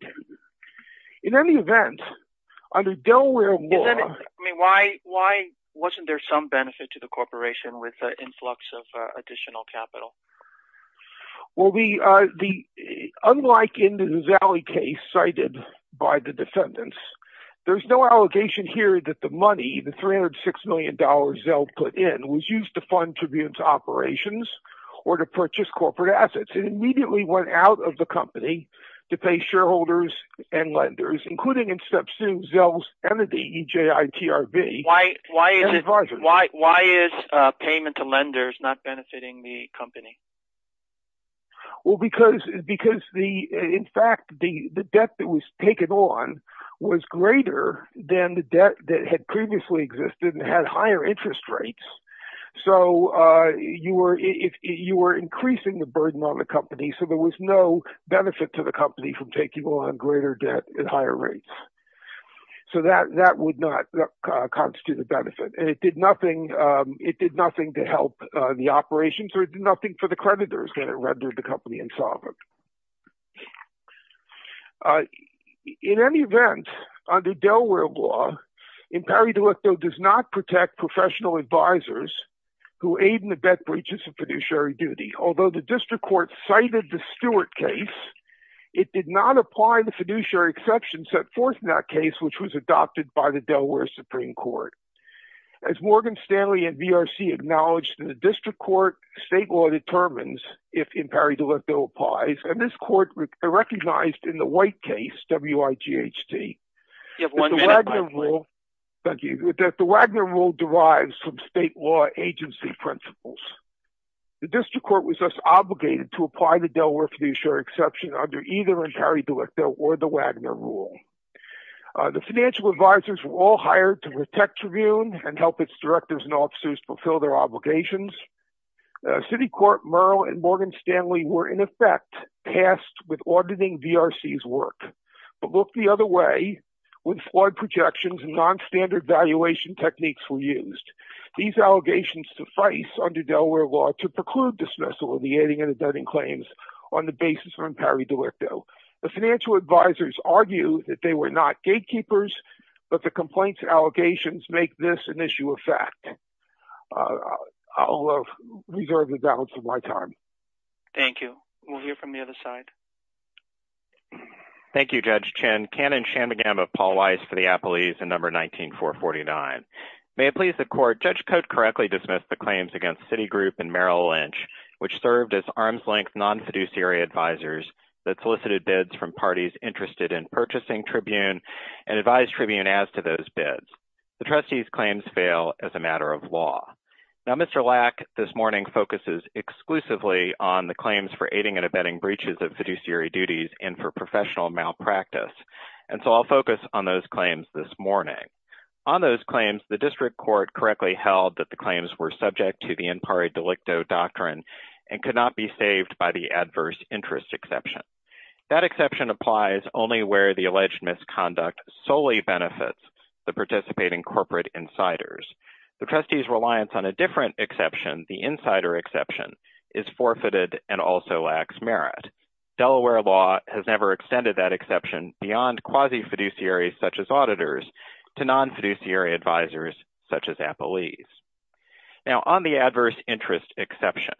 In any event, under Delaware law… Why wasn't there some benefit to the corporation with the influx of additional capital? Unlike in the Zelli case cited by the defendants, there's no allegation here that the money, the $306 million Zell put in, was used to fund tribune's operations or to purchase corporate assets. It immediately went out of the company to pay shareholders and lenders, including in step two, Zell's entity, EJITRB, and advisors. Why is payment to lenders not benefiting the company? In fact, the debt that was taken on was greater than the debt that had previously existed and had higher interest rates. You were increasing the burden on the company, so there was no benefit to the company from taking on greater debt at higher rates. So that would not constitute a benefit, and it did nothing to help the operations, or it did nothing for the creditors when it rendered the company insolvent. In any event, under Delaware law, Impari delicto does not protect professional advisors who aid in the debt breaches of fiduciary duty. Although the district court cited the Stewart case, it did not apply the fiduciary exception set forth in that case, which was adopted by the Delaware Supreme Court. As Morgan Stanley and VRC acknowledged in the district court, state law determines if Impari delicto applies, and this court recognized in the White case, WIGHT, that the Wagner rule derives from state law agency principles. The district court was thus obligated to apply the Delaware fiduciary exception under either Impari delicto or the Wagner rule. The financial advisors were all hired to protect Tribune and help its directors and officers fulfill their obligations. City Court Merle and Morgan Stanley were, in effect, tasked with auditing VRC's work, but looked the other way when flawed projections and nonstandard valuation techniques were used. These allegations suffice under Delaware law to preclude dismissal of the aiding and abetting claims on the basis of Impari delicto. The financial advisors argued that they were not gatekeepers, but the complaints and allegations make this an issue of fact. I'll reserve the balance of my time. Thank you. We'll hear from the other side. Thank you, Judge Chin. Cannon Shanmugam of Paul Weiss for the Appellees in No. 19-449. May it please the Court, Judge Cote correctly dismissed the claims against Citigroup and Merrill Lynch, which served as arm's-length non-fiduciary advisors that solicited bids from parties interested in purchasing Tribune and advised Tribune as to those bids. The trustees' claims fail as a matter of law. Now, Mr. Lack this morning focuses exclusively on the claims for aiding and abetting breaches of fiduciary duties and for professional malpractice, and so I'll focus on those claims this morning. On those claims, the District Court correctly held that the claims were subject to the Impari delicto doctrine and could not be saved by the adverse interest exception. That exception applies only where the alleged misconduct solely benefits the participating corporate insiders. The trustees' reliance on a different exception, the insider exception, is forfeited and also lacks merit. Delaware law has never extended that exception beyond quasi-fiduciaries such as auditors to non-fiduciary advisors such as appellees. Now, on the adverse interest exception,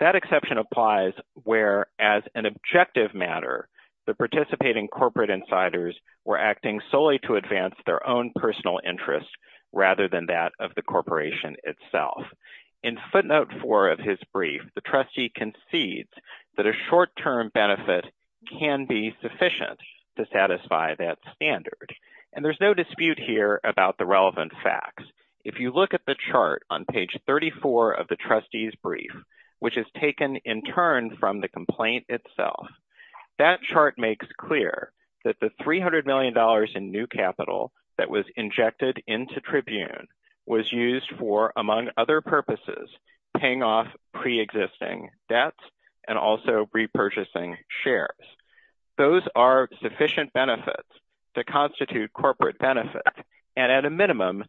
that exception applies where, as an objective matter, the participating corporate insiders were acting solely to advance their own personal interest rather than that of the corporation itself. In footnote 4 of his brief, the trustee concedes that a short-term benefit can be sufficient to satisfy that standard, and there's no dispute here about the relevant facts. If you look at the chart on page 34 of the trustee's brief, which is taken in turn from the complaint itself, that chart makes clear that the $300 million in new capital that was injected into Tribune was used for, among other purposes, paying off pre-existing debts and also repurchasing shares. Those are sufficient benefits to constitute corporate benefit, and at a minimum,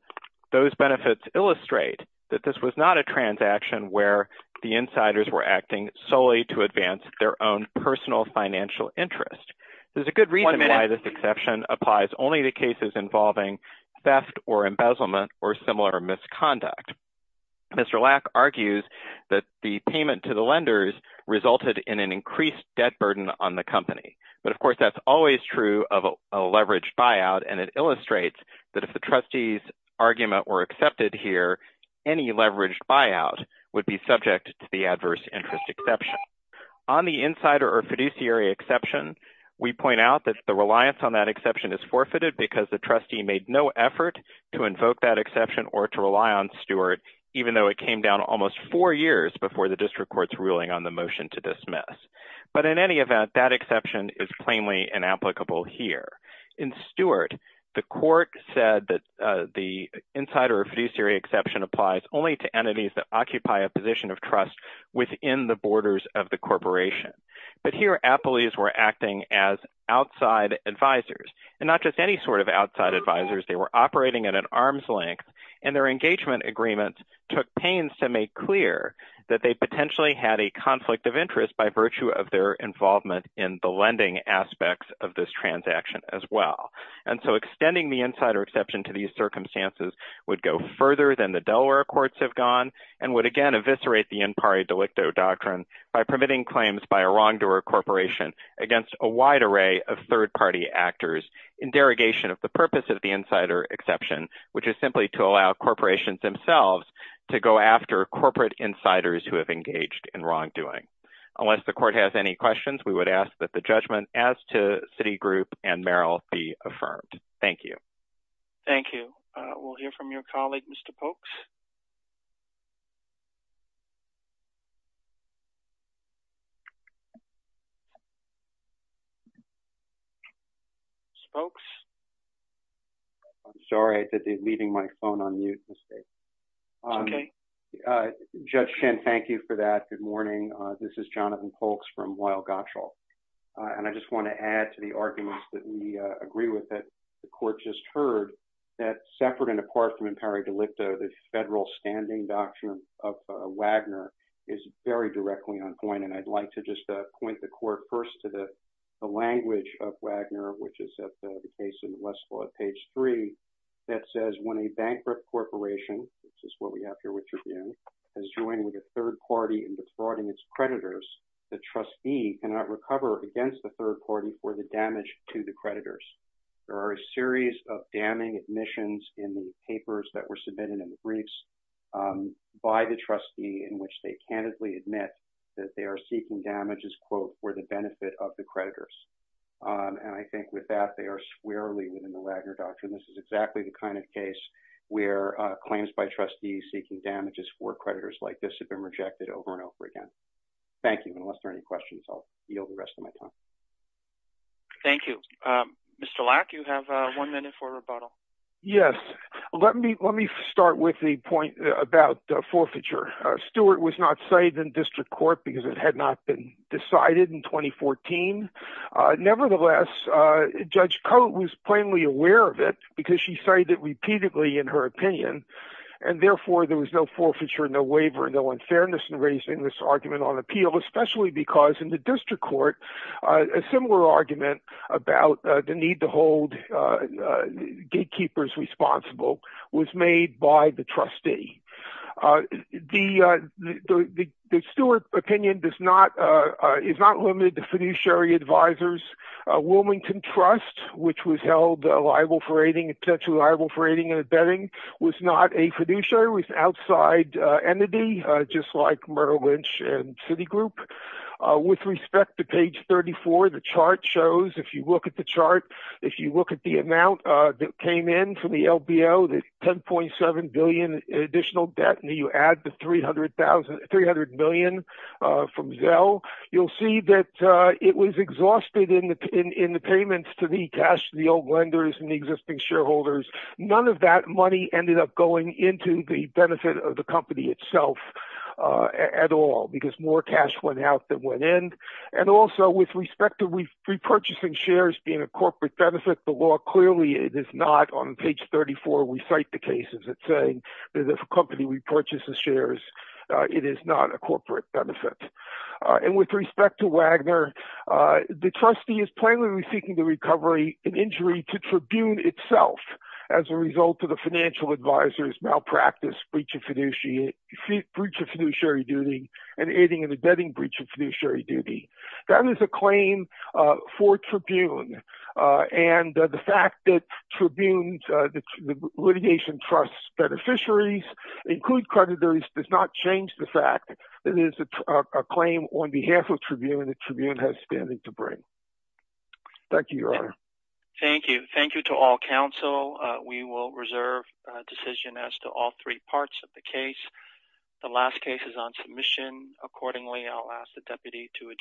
those benefits illustrate that this was not a transaction where the insiders were acting solely to advance their own personal financial interest. There's a good reason why this exception applies only to cases involving theft or embezzlement or similar misconduct. Mr. Lack argues that the payment to the lenders resulted in an increased debt burden on the company, but, of course, that's always true of a leveraged buyout, and it illustrates that if the trustee's argument were accepted here, any leveraged buyout would be subject to the adverse interest exception. On the insider or fiduciary exception, we point out that the reliance on that exception is forfeited because the trustee made no effort to invoke that exception or to rely on Stewart, even though it came down almost four years before the district court's ruling on the motion to dismiss. But in any event, that exception is plainly inapplicable here. In Stewart, the court said that the insider or fiduciary exception applies only to entities that occupy a position of trust within the borders of the corporation. But here, appellees were acting as outside advisors, and not just any sort of outside advisors. They were operating at an arm's length, and their engagement agreement took pains to make clear that they potentially had a conflict of interest by virtue of their involvement in the lending aspects of this transaction as well. And so extending the insider exception to these circumstances would go further than the Delaware courts have gone, and would again eviscerate the impari delicto doctrine by permitting claims by a wrongdoer corporation against a wide array of third-party actors in derogation of the purpose of the insider exception, which is simply to allow corporations themselves to go after corporate insiders who have engaged in wrongdoing. Unless the court has any questions, we would ask that the judgment as to Citigroup and Merrill be affirmed. Thank you. Thank you. We'll hear from your colleague, Mr. Polks. Spokes? I'm sorry that they're leaving my phone on mute. It's okay. Judge Shen, thank you for that. Good morning. This is Jonathan Polks from Weill Gottschall. And I just want to add to the arguments that we agree with that the court just heard that separate and apart from impari delicto, the federal standing doctrine of Wagner is very directly on point. And I'd like to just point the court first to the language of Wagner, which is at the case in Westlaw, page three, that says when a bankrupt corporation, which is what we have here with you again, has joined with a third party in defrauding its creditors, the trustee cannot recover against the third party for the damage to the creditors. There are a series of damning admissions in the papers that were submitted in the briefs by the trustee in which they candidly admit that they are seeking damages, quote, for the benefit of the creditors. And I think with that, they are squarely within the Wagner doctrine. This is exactly the kind of case where claims by trustees seeking damages for creditors like this have been rejected over and over again. Thank you. Unless there are any questions, I'll yield the rest of my time. Thank you. Mr. Lack, you have one minute for rebuttal. Yes. Let me start with the point about forfeiture. Stuart was not cited in district court because it had not been decided in 2014. Nevertheless, Judge Cote was plainly aware of it because she cited repeatedly in her opinion. And therefore, there was no forfeiture, no waiver, no unfairness in raising this argument on appeal, especially because in the district court, a similar argument about the need to hold gatekeepers responsible was made by the trustee. The Stuart opinion is not limited to fiduciary advisers. Wilmington Trust, which was held liable for aiding, essentially liable for aiding and abetting, was not a fiduciary. It was an outside entity, just like Merrill Lynch and Citigroup. With respect to page 34, the chart shows, if you look at the chart, if you look at the amount that came in from the LBO, the $10.7 billion additional debt, and you add the $300 million from Zelle, you'll see that it was exhausted in the payments to the cash to the old lenders and the existing shareholders. None of that money ended up going into the benefit of the company itself at all because more cash went out than went in. And also, with respect to repurchasing shares being a corporate benefit, the law clearly it is not. On page 34, we cite the cases that say that if a company repurchases shares, it is not a corporate benefit. And with respect to Wagner, the trustee is plainly seeking the recovery in injury to Tribune itself as a result of the financial advisers' malpractice, breach of fiduciary duty, and aiding and abetting breach of fiduciary duty. That is a claim for Tribune, and the fact that Tribune's litigation trusts beneficiaries, including creditors, does not change the fact that it is a claim on behalf of Tribune that Tribune has standing to bring. Thank you, Your Honor. Thank you. Thank you to all counsel. We will reserve a decision as to all three parts of the case. The last case is on submission. Accordingly, I'll ask the deputy to adjourn.